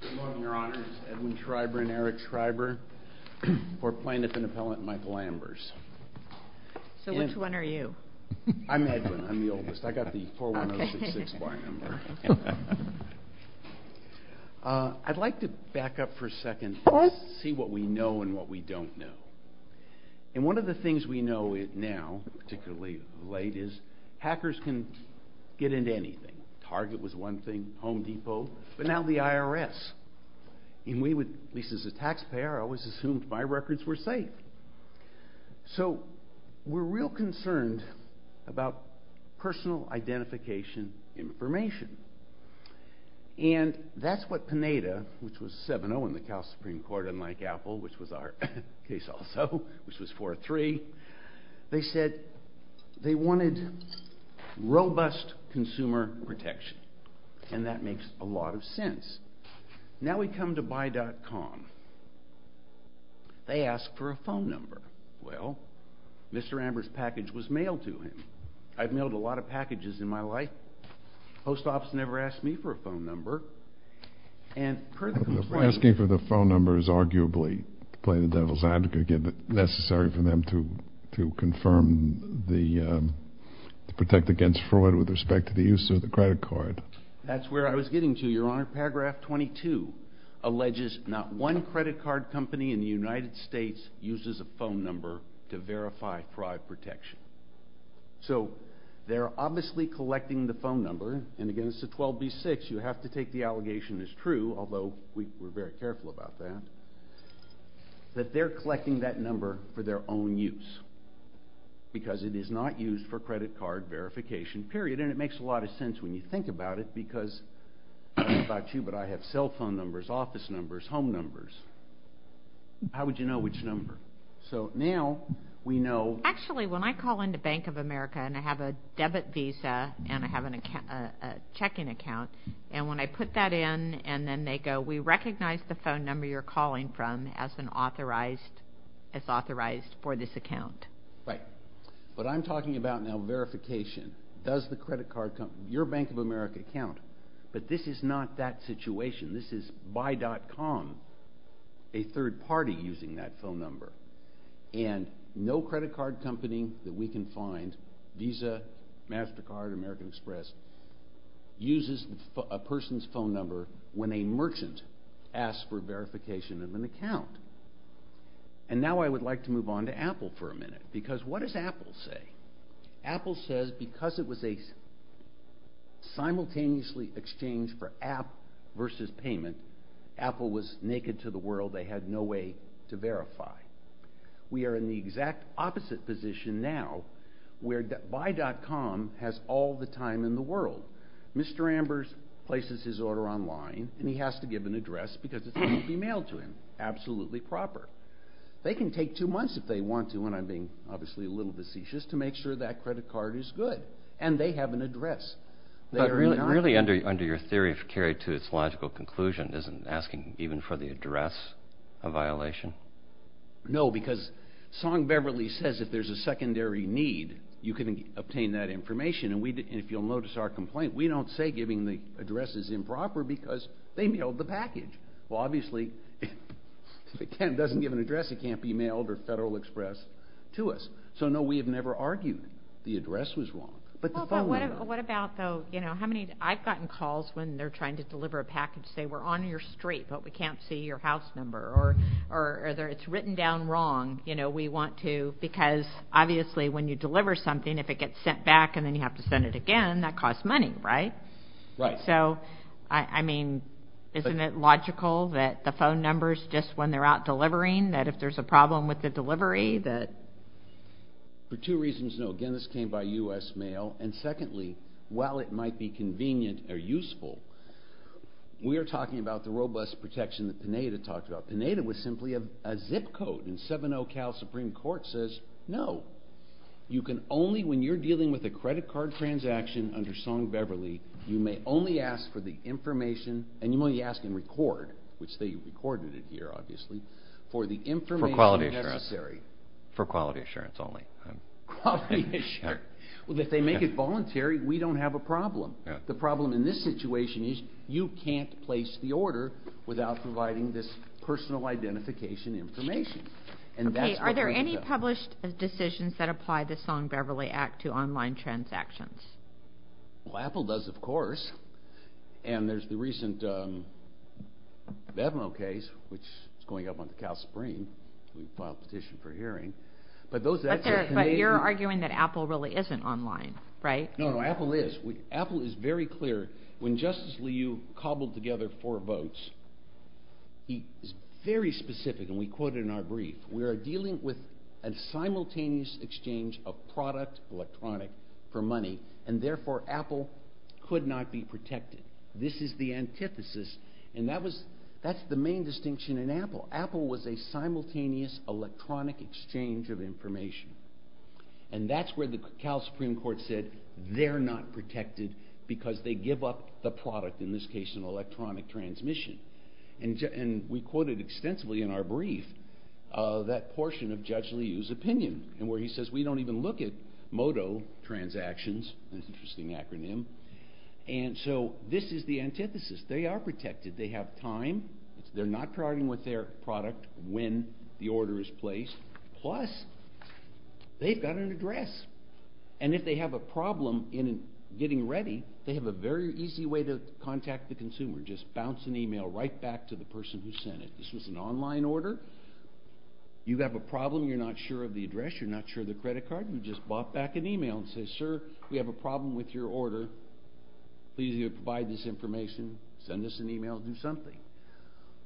Good morning, Your Honors. Edwin Schreiber and Eric Schreiber for plaintiff and appellant Michael Ambers. So which one are you? I'm Edwin. I'm the oldest. I got the 41066 Y number. I'd like to back up for a second and see what we know and what we don't know. And one of the things we know now, particularly late, is hackers can get into anything. Target was one thing, Home Depot, but now the IRS. And we, at least as a taxpayer, always assumed my records were safe. So we're real concerned about personal identification information. And that's what Pineda, which was 7-0 in the Cal Supreme Court, unlike Apple, which was our case also, which was 4-3, they said they wanted robust consumer protection. And that makes a lot of sense. Now we come to BUY.COM. They ask for a phone number. Well, Mr. Ambers' package was mailed to him. I've mailed a lot of packages in my life. The post office never asked me for a phone number. Asking for the phone number is arguably, to play the devil's advocate, necessary for them to protect against fraud with respect to the use of the credit card. That's where I was getting to, Your Honor. Paragraph 22 alleges not one credit card company in the United States uses a phone number to verify fraud protection. So they're obviously collecting the phone number. And again, it's a 12B6. You have to take the allegation as true, although we're very careful about that, that they're collecting that number for their own use. Because it is not used for credit card verification, period. And it makes a lot of sense when you think about it, because I don't know about you, but I have cell phone numbers, office numbers, home numbers. How would you know which number? So now we know... And when I put that in, and then they go, we recognize the phone number you're calling from as authorized for this account. Right. What I'm talking about now, verification. Does the credit card company, your Bank of America, count? But this is not that situation. This is Buy.com, a third party using that phone number. And no credit card company that we can find, Visa, MasterCard, American Express, uses a person's phone number when a merchant asks for verification of an account. And now I would like to move on to Apple for a minute. Because what does Apple say? Apple says because it was a simultaneously exchange for app versus payment, Apple was naked to the world. They had no way to verify. We are in the exact opposite position now, where Buy.com has all the time in the world. Mr. Ambers places his order online, and he has to give an address because it has to be mailed to him. Absolutely proper. They can take two months if they want to, and I'm being obviously a little facetious, to make sure that credit card is good. And they have an address. But really under your theory, if carried to its logical conclusion, isn't asking even for the address a violation? Well, no, because Song Beverly says if there's a secondary need, you can obtain that information. And if you'll notice our complaint, we don't say giving the address is improper because they mailed the package. Well, obviously, if it doesn't give an address, it can't be mailed or Federal Express to us. So no, we have never argued the address was wrong. But the phone number. I've gotten calls when they're trying to deliver a package saying, we're on your street, but we can't see your house number. Or it's written down wrong. We want to, because obviously when you deliver something, if it gets sent back and then you have to send it again, that costs money, right? Right. So, I mean, isn't it logical that the phone number is just when they're out delivering, that if there's a problem with the delivery? For two reasons, no. Again, this came by U.S. mail. And secondly, while it might be convenient or useful, we are talking about the robust protection that Pineda talked about. Pineda was simply a zip code. And 7-0 Cal Supreme Court says, no. You can only, when you're dealing with a credit card transaction under Song Beverly, you may only ask for the information, and you may only ask and record, which they recorded it here, obviously, for the information necessary. For quality assurance. For quality assurance only. Well, if they make it voluntary, we don't have a problem. The problem in this situation is you can't place the order without providing this personal identification information. Okay. Are there any published decisions that apply the Song Beverly Act to online transactions? Well, Apple does, of course. And there's the recent BevMo case, which is going up on the Cal Supreme. We filed a petition for hearing. But you're arguing that Apple really isn't online, right? No, Apple is. Apple is very clear. When Justice Liu cobbled together four votes, he was very specific, and we quote in our brief, we are dealing with a simultaneous exchange of product electronic for money, and therefore Apple could not be protected. This is the antithesis. And that's the main distinction in Apple. Apple was a simultaneous electronic exchange of information. And that's where the Cal Supreme Court said they're not protected because they give up the product, in this case an electronic transmission. And we quoted extensively in our brief that portion of Judge Liu's opinion, where he says we don't even look at MOTO transactions. That's an interesting acronym. And so this is the antithesis. They're not charging with their product when the order is placed. Plus, they've got an address. And if they have a problem in getting ready, they have a very easy way to contact the consumer. Just bounce an email right back to the person who sent it. This was an online order. You have a problem, you're not sure of the address, you're not sure of the credit card, you just bop back an email and say, sir, we have a problem with your order. Please provide this information, send us an email, do something.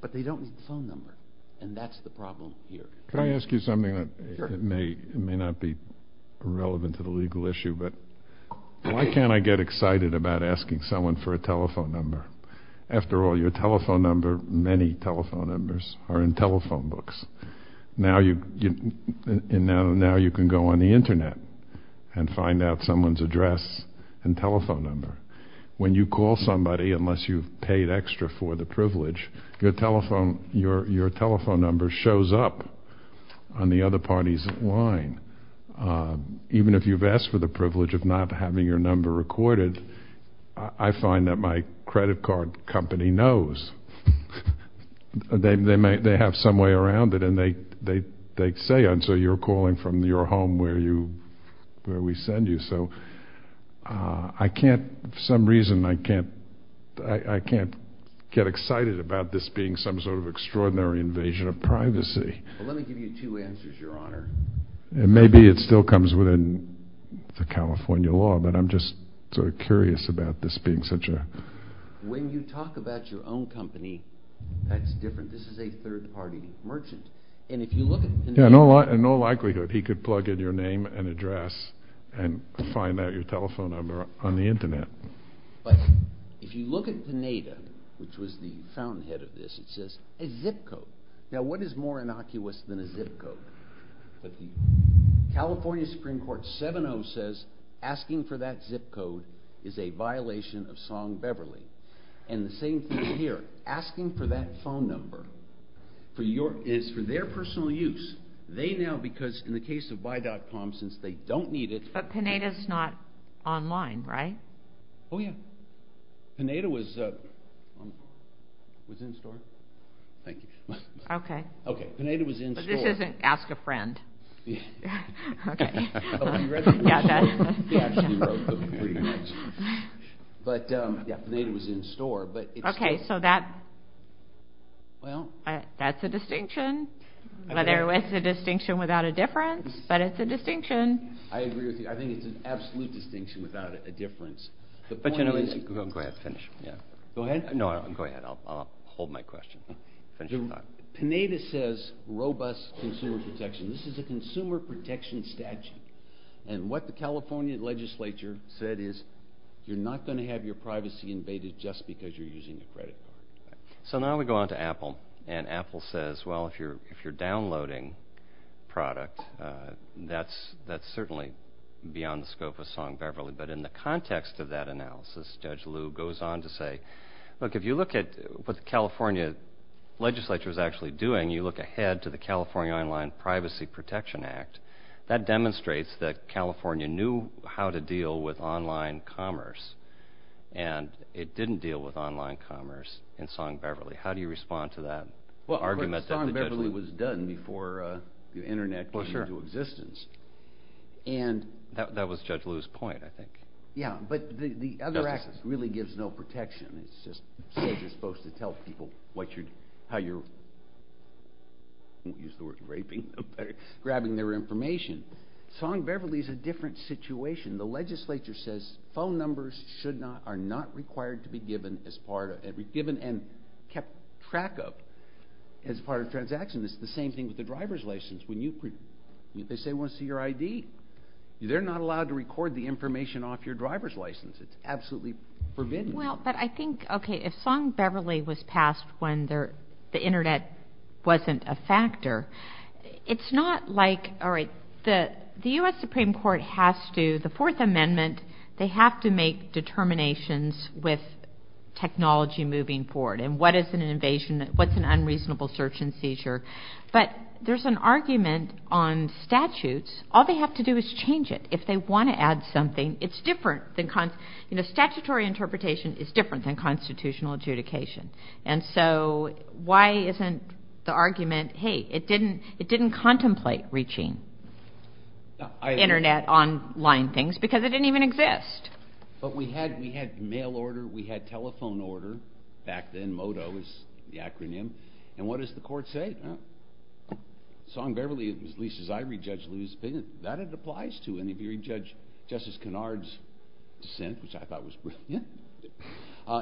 But they don't need the phone number. And that's the problem here. Can I ask you something that may not be relevant to the legal issue? Why can't I get excited about asking someone for a telephone number? After all, your telephone number, many telephone numbers, are in telephone books. Now you can go on the internet and find out someone's address and telephone number. When you call somebody, unless you've paid extra for the privilege, your telephone number shows up on the other party's line. Even if you've asked for the privilege of not having your number recorded, I find that my credit card company knows. They have some way around it and they say, and so you're calling from your home where we send you. So for some reason, I can't get excited about this being some sort of extraordinary invasion of privacy. Let me give you two answers, Your Honor. Maybe it still comes within the California law, but I'm just sort of curious about this being such a... When you talk about your own company, that's different. This is a third-party merchant. Yeah, in all likelihood, he could plug in your name and address and find out your telephone number on the internet. But if you look at Pineda, which was the fountainhead of this, it says a zip code. Now what is more innocuous than a zip code? California Supreme Court 7-0 says asking for that zip code is a violation of Song-Beverly. And the same thing here. Asking for that phone number is for their personal use. They now, because in the case of Buy.com, since they don't need it... But Pineda's not online, right? Oh, yeah. Pineda was in store. Thank you. Okay. Okay, Pineda was in store. But this isn't Ask a Friend. Okay. But, yeah, Pineda was in store. Okay, so that's a distinction. Whether it's a distinction without a difference, but it's a distinction. I agree with you. I think it's an absolute distinction without a difference. Go ahead, finish. Go ahead? No, go ahead. I'll hold my question. Pineda says robust consumer protection. This is a consumer protection statute. And what the California legislature said is, you're not going to have your privacy invaded just because you're using a credit card. So now we go on to Apple. And Apple says, well, if you're downloading product, that's certainly beyond the scope of Song Beverly. But in the context of that analysis, Judge Liu goes on to say, look, if you look at what the California legislature is actually doing, you look ahead to the California Online Privacy Protection Act. That demonstrates that California knew how to deal with online commerce. And it didn't deal with online commerce in Song Beverly. How do you respond to that argument? Well, Song Beverly was done before the Internet came into existence. And... That was Judge Liu's point, I think. Yeah, but the other act really gives no protection. It just says you're supposed to tell people how you're, I won't use the word raping, grabbing their information. Song Beverly is a different situation. The legislature says phone numbers are not required to be given and kept track of as part of transactions. It's the same thing with the driver's license. They say, well, it's your ID. They're not allowed to record the information off your driver's license. It's absolutely forbidden. Well, but I think, okay, if Song Beverly was passed when the Internet wasn't a factor, it's not like, all right, the U.S. Supreme Court has to, the Fourth Amendment, they have to make determinations with technology moving forward. And what is an invasion? What's an unreasonable search and seizure? But there's an argument on statutes. All they have to do is change it. If they want to add something, it's different. Statutory interpretation is different than constitutional adjudication. And so why isn't the argument, hey, it didn't contemplate reaching Internet, online things, because it didn't even exist. But we had mail order. We had telephone order back then. MODO is the acronym. And what does the court say? Well, Song Beverly, at least as I read Judge Lewis' opinion, that it applies to. And if you read Justice Kennard's dissent, which I thought was brilliant,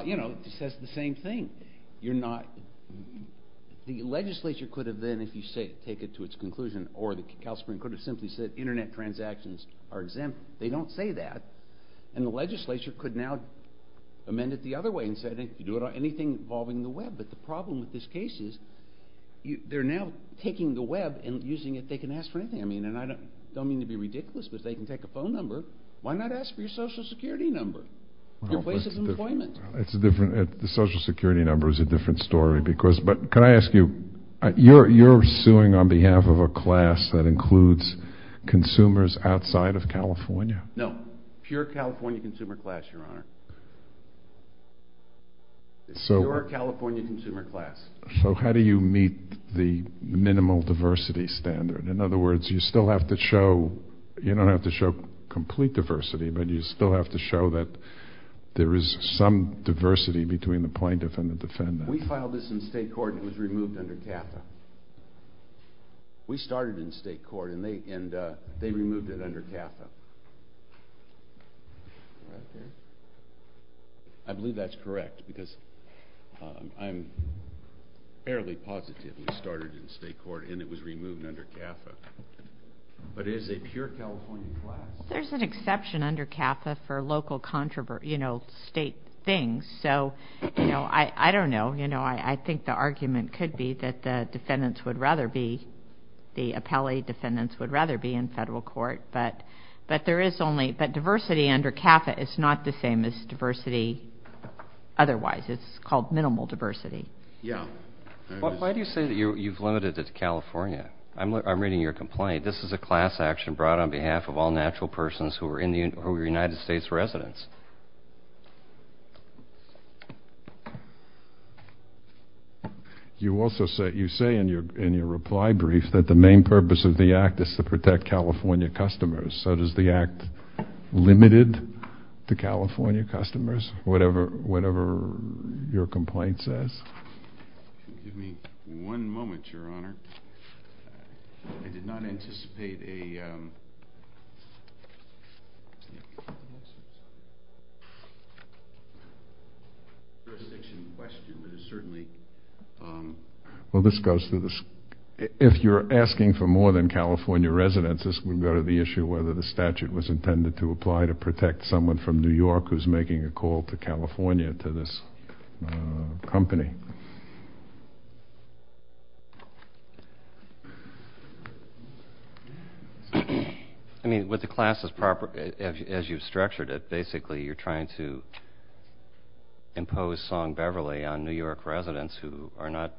you know, it says the same thing. You're not, the legislature could have then, if you take it to its conclusion, or the California Supreme Court could have simply said Internet transactions are exempt. They don't say that. And the legislature could now amend it the other way and say, you do it on anything involving the Web. But the problem with this case is they're now taking the Web and using it. They can ask for anything. I mean, and I don't mean to be ridiculous, but they can take a phone number. Why not ask for your Social Security number? Your place is employment. It's a different, the Social Security number is a different story. But can I ask you, you're suing on behalf of a class that includes consumers outside of California? No. Pure California consumer class, Your Honor. Pure California consumer class. So how do you meet the minimal diversity standard? In other words, you still have to show, you don't have to show complete diversity, but you still have to show that there is some diversity between the plaintiff and the defendant. We filed this in state court and it was removed under CAFA. We started in state court and they removed it under CAFA. Right there. I believe that's correct because I'm fairly positive we started in state court and it was removed under CAFA. But it is a pure California class. There's an exception under CAFA for local controversy, you know, state things. So, you know, I don't know, you know, I think the argument could be that the defendants would rather be, the appellee defendants would rather be in federal court. But there is only, but diversity under CAFA is not the same as diversity otherwise. It's called minimal diversity. Why do you say that you've limited it to California? I'm reading your complaint. This is a class action brought on behalf of all natural persons who are United States residents. You also say, you say in your reply brief that the main purpose of the act is to protect California customers. So does the act limit it to California customers, whatever your complaint says? Give me one moment, your honor. I did not anticipate a jurisdiction question, but it certainly. Well, this goes to the, if you're asking for more than California residents, this would go to the issue whether the statute was intended to apply to protect someone from New York who's making a call to California to this company. I mean, with the class as proper, as you've structured it, basically you're trying to impose Song Beverly on New York residents who are not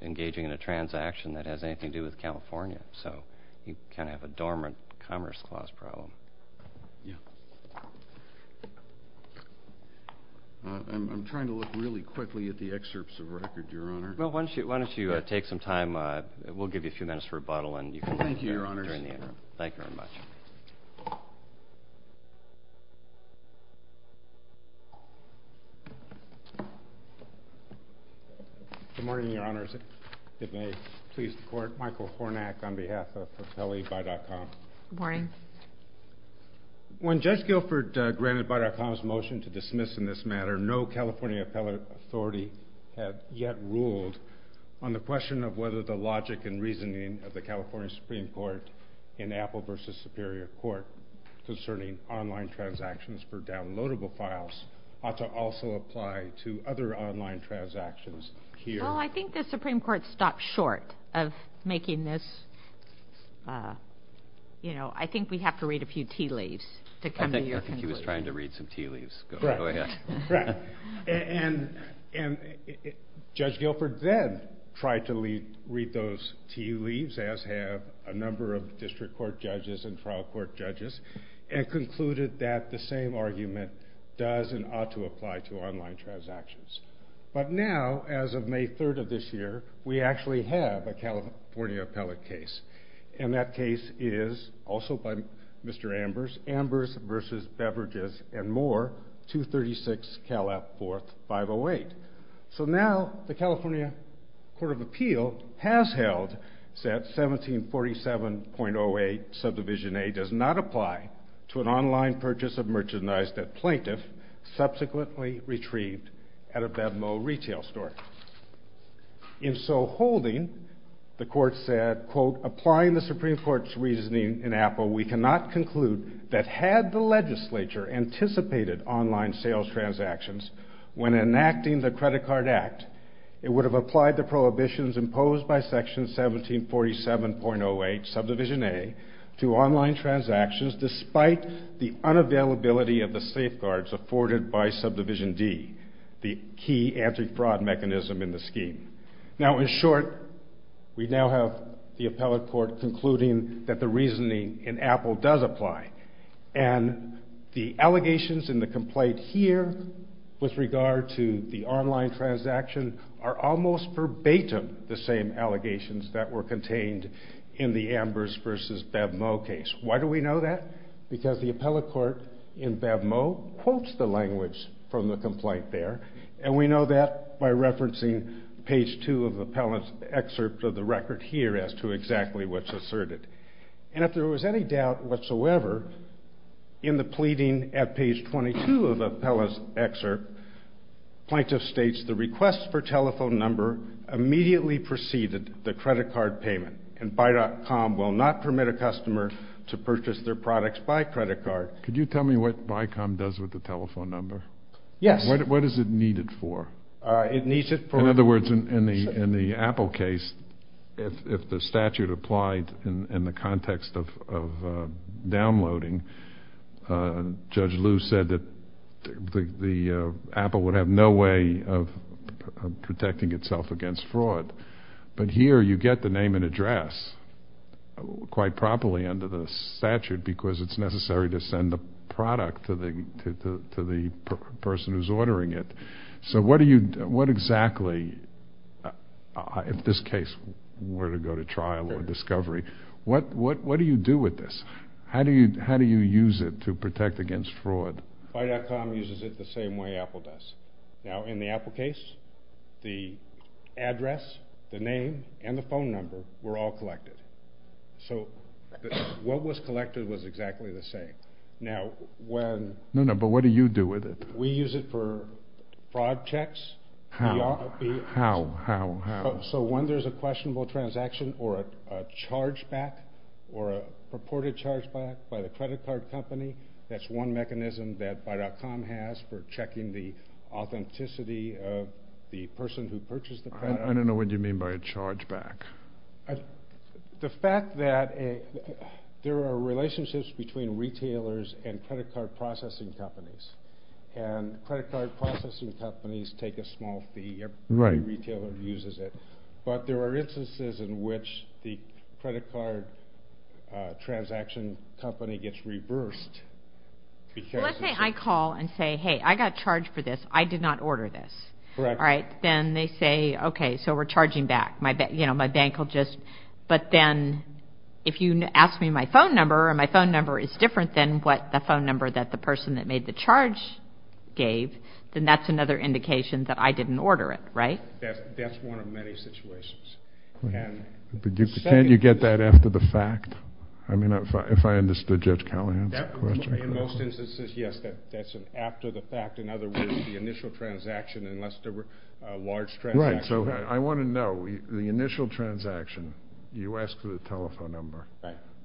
engaging in a transaction that has anything to do with California. So you kind of have a dormant commerce clause problem. Yeah. I'm trying to look really quickly at the excerpts of record, your honor. Well, why don't you take some time? We'll give you a few minutes for rebuttal. Thank you, your honors. Thank you very much. Good morning, your honors. If I may please the court. Michael Hornack on behalf of AppelleeBuy.com. Good morning. When Judge Guilford granted Buy.com's motion to dismiss in this matter, no California appellate authority had yet ruled on the question of whether the logic and reasoning of the California Supreme Court in Apple v. Superior Court concerning online transactions for downloadable files ought to also apply to other online transactions here. Well, I think the Supreme Court stopped short of making this, you know, I think we have to read a few tea leaves to come to your conclusion. I think he was trying to read some tea leaves. Go ahead. And Judge Guilford then tried to read those tea leaves, as have a number of district court judges and trial court judges, and concluded that the same argument does and ought to apply to online transactions. But now, as of May 3rd of this year, we actually have a California appellate case. And that case is also by Mr. Ambers, Ambers v. Beverages & More, 236 Cal. App. 4th, 508. So now, the California Court of Appeal has held that 1747.08, subdivision A, does not apply to an online purchase of merchandise that plaintiff subsequently retrieved at a Venmo retail store. In so holding, the court said, quote, applying the Supreme Court's reasoning in Apple, we cannot conclude that had the legislature anticipated online sales transactions when enacting the Credit Card Act, it would have applied the prohibitions imposed by section 1747.08, subdivision A, to online transactions despite the unavailability of the safeguards afforded by subdivision D, the key anti-fraud mechanism in the scheme. Now, in short, we now have the appellate court concluding that the reasoning in Apple does apply. And the allegations in the complaint here with regard to the online transaction are almost verbatim the same allegations that were contained in the Ambers v. BevMo case. Why do we know that? Because the appellate court in BevMo quotes the language from the complaint there, and we know that by referencing page 2 of the appellate's excerpt of the record here as to exactly what's asserted. And if there was any doubt whatsoever, in the pleading at page 22 of the appellate's excerpt, plaintiff states the request for telephone number immediately preceded the credit card payment, and Buy.com will not permit a customer to purchase their products by credit card. Could you tell me what Buy.com does with the telephone number? Yes. What is it needed for? In other words, in the Apple case, if the statute applied in the context of downloading, Judge Liu said that Apple would have no way of protecting itself against fraud. But here you get the name and address quite properly under the statute because it's necessary to send the product to the person who's ordering it. So what exactly, in this case, were to go to trial or discovery, what do you do with this? How do you use it to protect against fraud? Buy.com uses it the same way Apple does. Now, in the Apple case, the address, the name, and the phone number were all collected. So what was collected was exactly the same. Now, when... No, no, but what do you do with it? We use it for fraud checks. How? How? How? How? So when there's a questionable transaction or a chargeback or a purported chargeback by the credit card company, that's one mechanism that Buy.com has for checking the authenticity of the person who purchased the product. I don't know what you mean by a chargeback. The fact that there are relationships between retailers and credit card processing companies. And credit card processing companies take a small fee. Every retailer uses it. But there are instances in which the credit card transaction company gets reversed. Well, let's say I call and say, hey, I got charged for this. I did not order this. Then they say, okay, so we're charging back. My bank will just... But then if you ask me my phone number is different than what the phone number that the person that made the charge gave, then that's another indication that I didn't order it, right? That's one of many situations. But can't you get that after the fact? I mean, if I understood Judge Callahan's question. In most instances, yes, that's after the fact. In other words, the initial transaction, unless there were large transactions. Right, so I want to know, the initial transaction, you asked for the telephone number.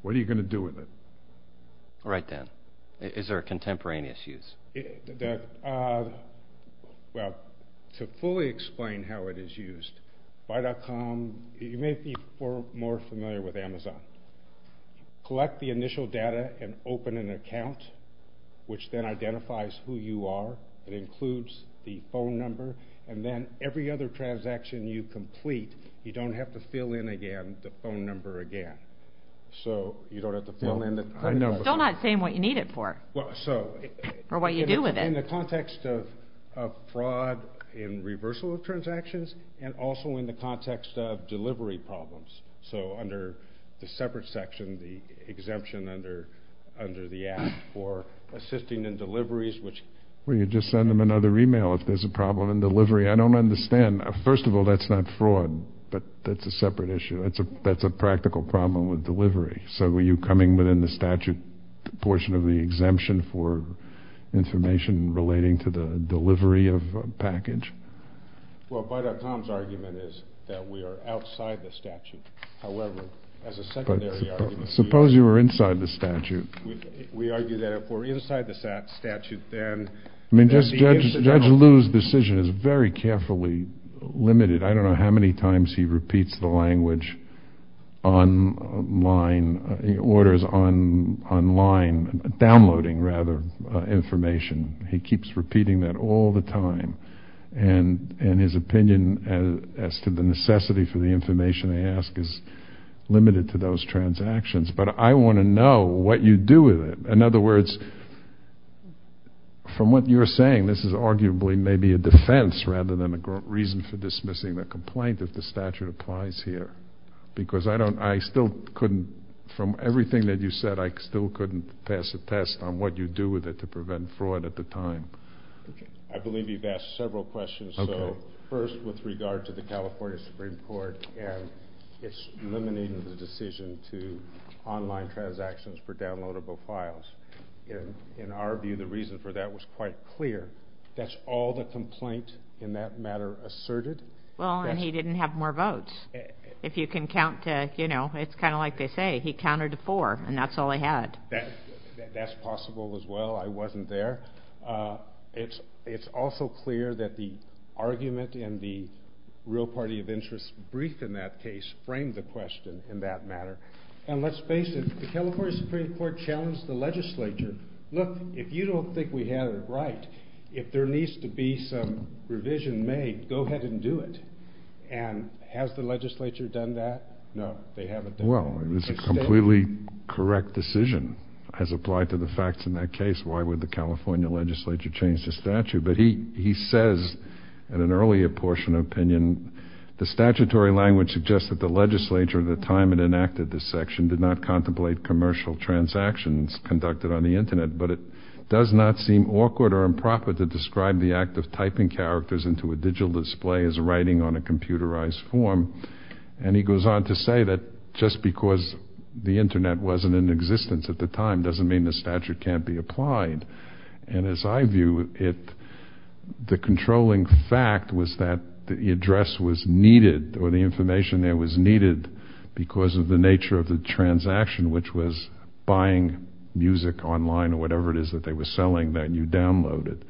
What are you going to do with it? Right then. Is there a contemporaneous use? Well, to fully explain how it is used, Buy.com, you may be more familiar with Amazon. Collect the initial data and open an account, which then identifies who you are. It includes the phone number, and then every other transaction you complete, you don't have to fill in again the phone number again. So you don't have to fill in the phone number. You're still not saying what you need it for, or what you do with it. In the context of fraud in reversal of transactions, and also in the context of delivery problems. So under the separate section, the exemption under the Act for assisting in deliveries, which... Well, you just send them another email if there's a problem in delivery. I don't understand. First of all, that's not fraud, but that's a separate issue. That's not delivery. So were you coming within the statute portion of the exemption for information relating to the delivery of a package? Well, Buy.com's argument is that we are outside the statute. However, as a secondary argument... Suppose you were inside the statute. We argue that if we're inside the statute, then... Judge Liu's decision is very carefully limited. I don't know how many times he repeats the language online, orders online, downloading, rather, information. He keeps repeating that all the time. And his opinion as to the necessity for the information they ask is limited to those transactions. But I want to know what you do with it. In other words, from what you're saying, this is arguably maybe a defense rather than a reason for dismissing the complaint that the statute applies here. Because I still couldn't... From everything that you said, I still couldn't pass a test on what you do with it to prevent fraud at the time. I believe you've asked several questions. So, first, with regard to the California Supreme Court and its limiting the decision to online transactions for downloadable files. In our view, the reason for that was quite clear. That's all the complaint in that matter asserted? Well, and he didn't have more votes. If you can count to, you know, it's kind of like they say, he counted to four. And that's all he had. That's possible as well. I wasn't there. It's also clear that the argument in the real party of interest brief in that case framed the question in that matter. And let's face it, the California Supreme Court challenged the legislature, look, if you don't think we have it right, if there needs to be some revision made, go ahead and do it. And has the legislature done that? No, they haven't. Well, it was a completely correct decision as applied to the facts in that case. Why would the California legislature change the statute? But he says in an earlier portion of opinion, the statutory language suggests that the legislature at the time it enacted this section did not contemplate commercial transactions conducted on the Internet, but it does not seem awkward or improper to describe the act of typing characters into a digital display as writing on a computerized form. And he goes on to say that just because the Internet wasn't in existence at the time doesn't mean the statute can't be applied. And as I view it, the controlling fact was that the address was needed or the information there was needed because of the nature of the transaction, which was buying music online or whatever it is that they were selling that you downloaded.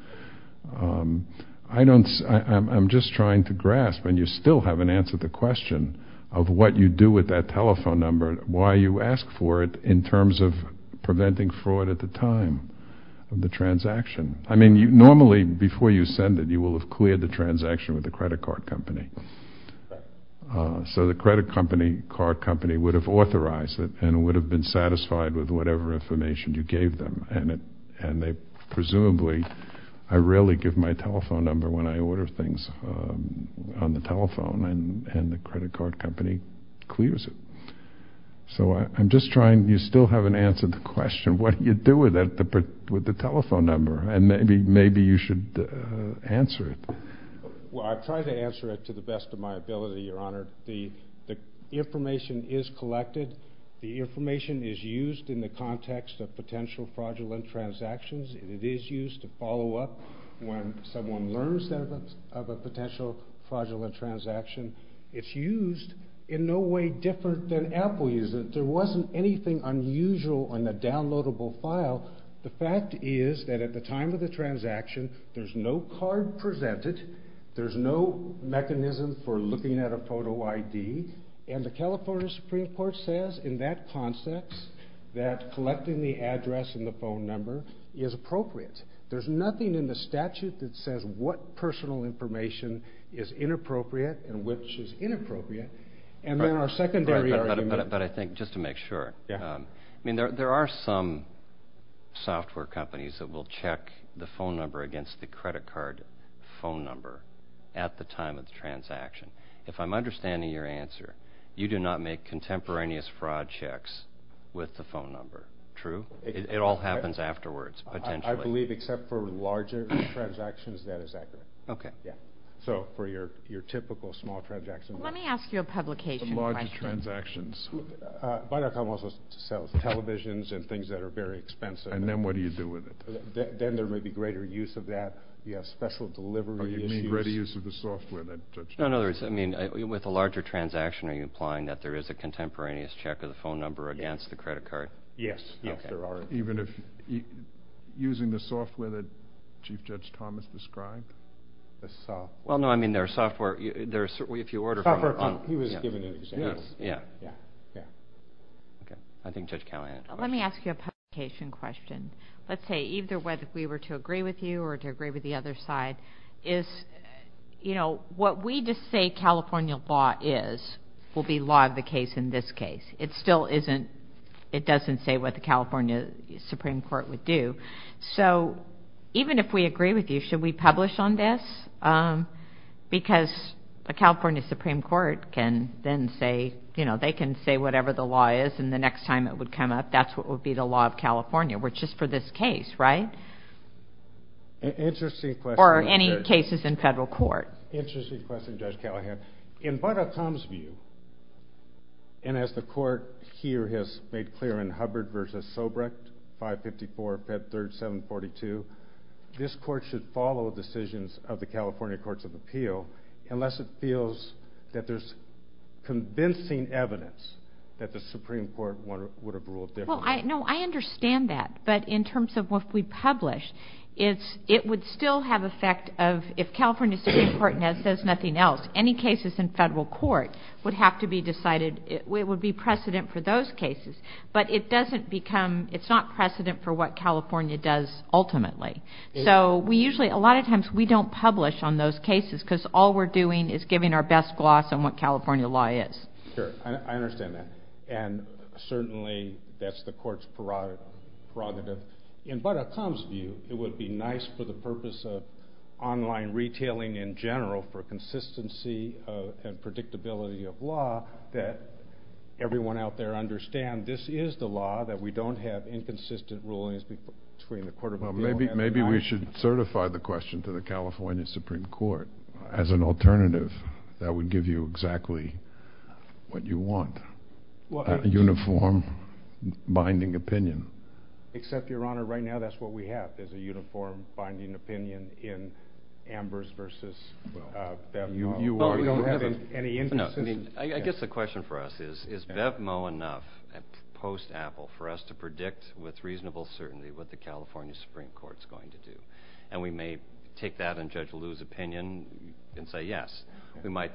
I don't... I'm just trying to grasp, and you still haven't answered the question of what you do with that telephone number, why you ask for it in terms of preventing fraud at the time of the transaction. I mean, normally before you send it, you will have cleared the transaction with the credit card company. So the credit card company would have authorized it and would have been satisfied with whatever information you gave them. And they presumably would have said, I really give my telephone number when I order things on the telephone and the credit card company clears it. So I'm just trying... You still haven't answered the question what you do with the telephone number and maybe you should answer it. Well, I've tried to answer it to the best of my ability, Your Honor. The information is collected. The information is used in the context of potential fraudulent transactions. It is used to follow up when someone learns of a potential fraudulent transaction. It's used in no way different than Apple uses it. There wasn't anything unusual on the downloadable file. The fact is that at the time of the transaction, there's no card presented. There's no mechanism for looking at a photo ID. And the California Supreme Court says in that context that collecting the address and the phone number is appropriate. There's nothing in the statute that says what personal information is inappropriate and which is inappropriate. And then our secondary argument... But I think, just to make sure, there are some software companies that will check the phone number against the credit card phone number at the time of the transaction. If I'm understanding your answer, you do not make contemporaneous fraud checks with the phone number. True? It all happens afterwards, potentially. I believe except for larger transactions, that is accurate. So for your typical small transaction... Let me ask you a publication question. Larger transactions. Viacom also sells televisions and things that are very expensive. And then what do you do with it? Then there may be greater use of that. You have special delivery issues. You mean greater use of the software? No, no. With a larger transaction, yes, there are. Even if using the software that Chief Judge Thomas described? Well, no, I mean, there are software... He was giving an example. Yeah, yeah. I think Judge Callahan had a question. Let me ask you a publication question. Let's say, either whether we were to agree with you or to agree with the other side. What we just say California law is will be law of the case in this case. It still isn't... That's what the California Supreme Court would do. So even if we agree with you, should we publish on this? Because the California Supreme Court can then say, they can say whatever the law is and the next time it would come up, that's what would be the law of California, which is for this case, right? Interesting question. Or any cases in federal court. Interesting question, Judge Callahan. In Butter Tom's view, and as the court here has made clear in Hubbard v. Sobrecht, 554, Pet. 3rd, 742, this court should follow the decisions of the California Courts of Appeal unless it feels that there's convincing evidence that the Supreme Court would have ruled differently. No, I understand that. But in terms of what we publish, it would still have effect of if California Supreme Court says nothing else, any cases in federal court would have to be decided, it would be precedent for those cases. But it doesn't become, it's not precedent for what California does ultimately. So we usually, a lot of times, we don't publish on those cases because all we're doing is giving our best gloss on what California law is. Sure, I understand that. And certainly that's the court's prerogative. In Butter Tom's view, it would be nice for the purpose of online retailing in general for consistency and predictability of law that everyone out there understand that there's a law that we don't have inconsistent rulings between the Court of Appeal... Maybe we should certify the question to the California Supreme Court as an alternative that would give you exactly what you want, a uniform binding opinion. Except, Your Honor, right now that's what we have is a uniform binding opinion in Ambers versus Bev Moe. Well, we don't have any inconsistent... I guess the question for us is is Bev Moe enough post-Apple for us to predict with reasonable certainty what the California Supreme Court's going to do? And we may take that and Judge Liu's opinion and say yes. We might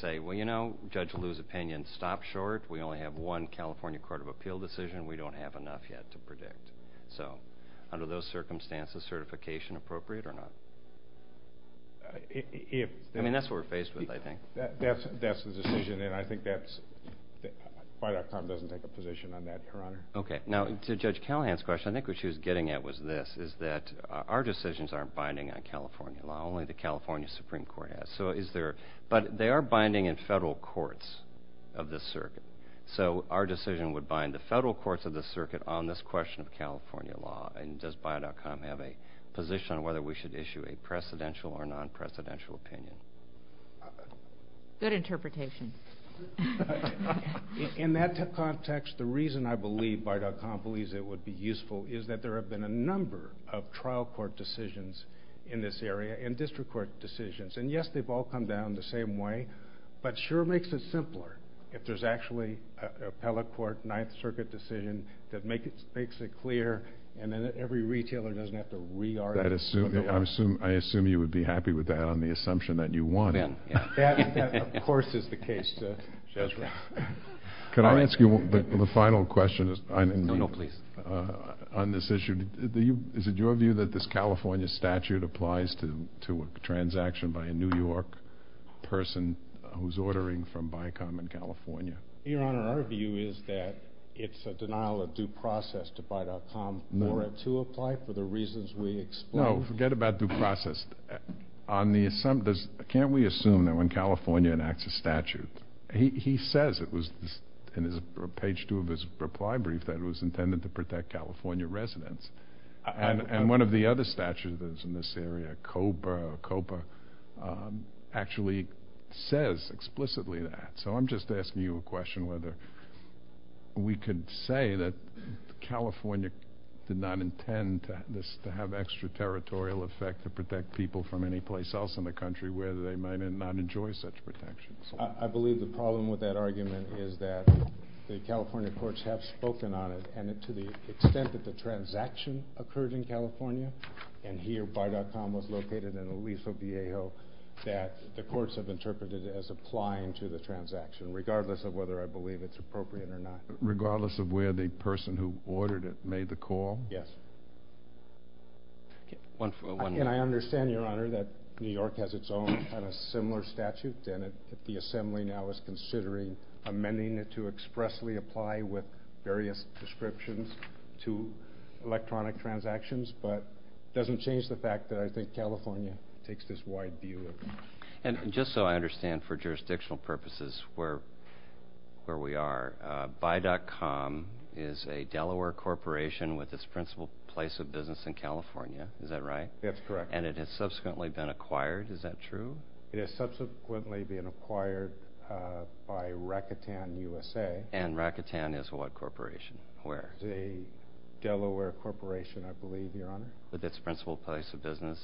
say, well, you know, Judge Liu's opinion stopped short. We only have one California Court of Appeal decision. We don't have enough yet to predict. So under those circumstances, certification appropriate or not? I mean, that's what we're faced with, I think. That's the decision, and I think that's... BIO.com doesn't take a position on that, Your Honor. Okay. Now, to Judge Callahan's question, I think what she was getting at was this, is that our decisions aren't binding on California law. Only the California Supreme Court has. But they are binding in federal courts of this circuit. So our decision would bind the federal courts of this circuit on this question of California law. And does BIO.com have a position on whether we should issue a precedential or non-presidential opinion? Good interpretation. In that context, the reason I believe BIO.com believes it would be useful is that there have been a number of trial court decisions in this area and district court decisions. And yes, they've all come down the same way, but sure makes it simpler if there's actually an appellate court, Ninth Circuit decision that makes it clear and then every retailer doesn't have to re-articulate. I assume you would be happy with that based on the assumption that you won. That, of course, is the case. That's right. Can I ask you the final question? No, no, please. On this issue, is it your view that this California statute applies to a transaction by a New York person who's ordering from BICOM in California? Your Honor, our view is that it's a denial of due process to BIO.com for it to apply for the reasons we explained. No, forget about due process. Can't we assume that when California enacts a statute, he says, in page two of his reply brief, that it was intended to protect California residents. And one of the other statutes that's in this area, COPA, actually says explicitly that. So I'm just asking you a question whether we could say that California did not intend to have extra territorial effect to protect people from any place else in the country where they might not enjoy such protection. I believe the problem with that argument is that the California courts have spoken on it. And to the extent that the transaction occurred in California, and here BICOM was located in Aliso, Vallejo, that the courts have interpreted it as applying to the transaction, regardless of whether I believe it's appropriate or not. Regardless of where the person who ordered it made the call? I understand, Your Honor, that New York has its own and a similar statute, and the Assembly now is considering amending it to expressly apply with various descriptions to electronic transactions, but it doesn't change the fact that I think California takes this wide view of it. And just so I understand, for jurisdictional purposes, where we are, BICOM is a Delaware corporation with its principal place of business, and it has subsequently been acquired. Is that true? It has subsequently been acquired by Rakuten USA. And Rakuten is what corporation? Where? It's a Delaware corporation, I believe, Your Honor. With its principal place of business?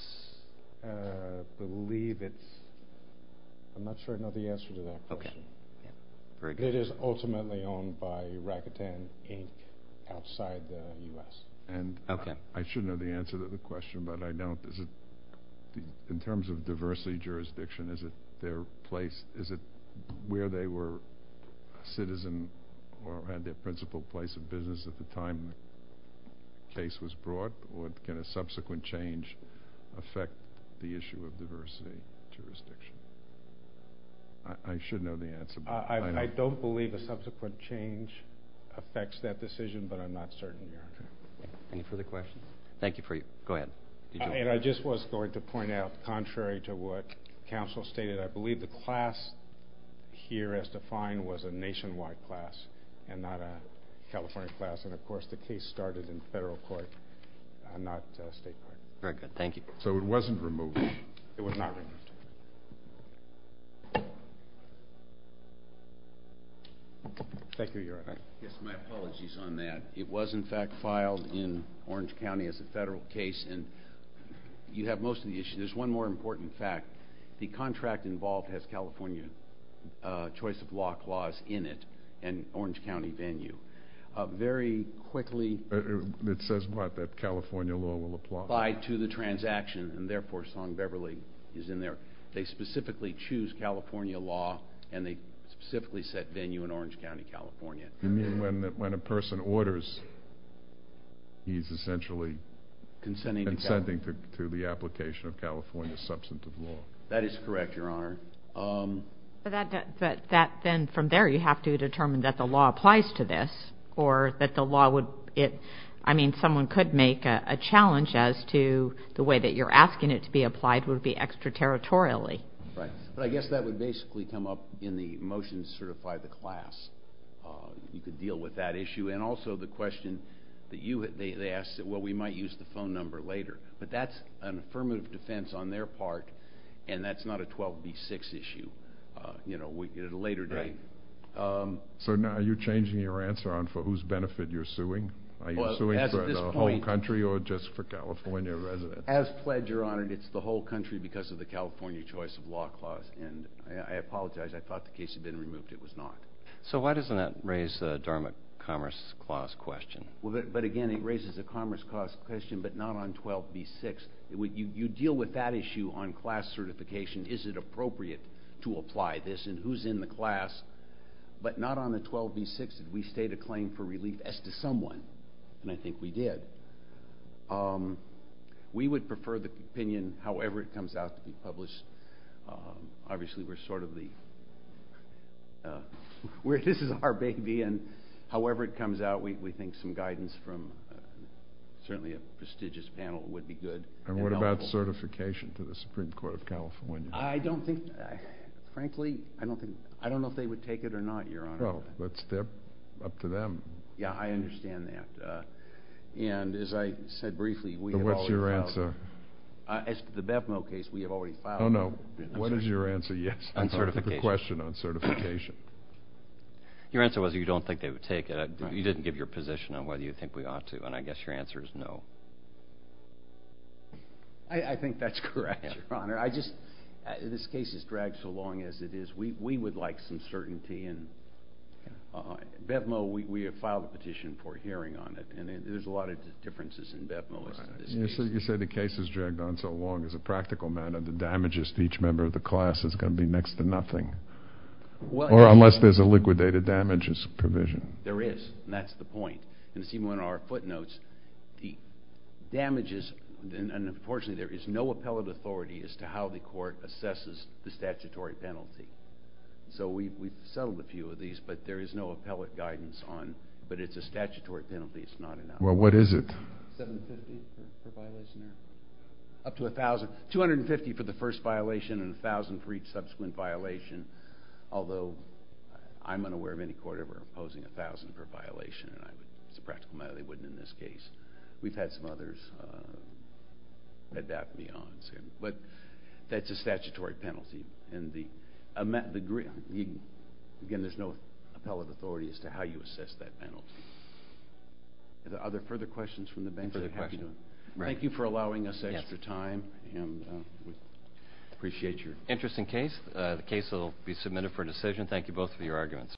I believe it's... I'm not sure I know the answer to that question. It is ultimately owned by Rakuten Inc. outside the U.S. In terms of diversity jurisdiction, is it their place, is it where they were a citizen or had their principal place of business at the time the case was brought, or can a subsequent change affect the issue of diversity jurisdiction? I should know the answer. I don't believe a subsequent change affects that decision, but I'm not certain, Your Honor. Any further questions? Thank you for your... Go ahead. I just was going to point out, contrary to what counsel stated, I believe the class here as defined was a nationwide class and not a California class, and of course the case started in federal court, not state court. Very good. Thank you. So it wasn't removed. It was not removed. Thank you, Your Honor. Yes, my apologies on that. California is a federal case and you have most of the issues. There's one more important fact. The contract involved has California choice of lock laws in it and Orange County venue. Very quickly... It says what? That California law will apply? Apply to the transaction, and therefore Song Beverly is in there. They specifically choose California law and they specifically set venue in Orange County, California. You mean when a person orders, consenting to... Consenting to the application of California substantive law. That is correct, Your Honor. Then from there you have to determine that the law applies to this or that the law would... I mean, someone could make a challenge as to the way that you're asking it to be applied would be extraterritorially. Right, but I guess that would basically come up in the motion to certify the class. You could deal with that issue and use the phone number later, but that's an affirmative defense on their part, and that's not a 12B6 issue at a later date. So now are you changing your answer on for whose benefit you're suing? Are you suing for the whole country or just for California residents? As pledged, Your Honor, it's the whole country because of the California choice of lock laws, and I apologize. I thought the case had been removed. It was not. It's a 12B6 issue, but not on 12B6. You deal with that issue on class certification. Is it appropriate to apply this, and who's in the class, but not on the 12B6. Did we state a claim for relief as to someone? And I think we did. We would prefer the opinion, however it comes out to be published. Obviously, we're sort of the... This is our baby, and however it comes out, it's a prestigious panel. It would be good. And what about certification to the Supreme Court of California? I don't think, frankly, I don't know if they would take it or not, Your Honor. Well, it's up to them. Yeah, I understand that. And as I said briefly, we have already filed... What's your answer? As to the BevMo case, we have already filed... Oh, no. I think that's correct, Your Honor. I just... This case has dragged so long as it is. We would like some certainty, and BevMo, we have filed a petition for a hearing on it, and there's a lot of differences in BevMo. You said the case has dragged on so long as a practical matter. The damages to each member of the class is going to be next to nothing, or unless there's a liquidated damages provision. There is, and that's the point. And as you can see in one of our footnotes, the damages... And unfortunately, there is no appellate authority as to how the court assesses the statutory penalty. So we've settled a few of these, but there is no appellate guidance on... But it's a statutory penalty. It's not an... Well, what is it? $750 per violation. Up to $1,000. $250 for the first violation and $1,000 for each subsequent violation, although I'm unaware of any court ever imposing $1,000 per violation, and it's a practical matter they wouldn't in this case. We've had some others adapt beyond... But that's a statutory penalty, and the... Again, there's no appellate authority as to how you assess that penalty. Are there further questions from the bank? Further questions? Thank you for allowing us extra time, and we appreciate your... Interesting case. The case will be submitted for decision. Thank you both for your arguments.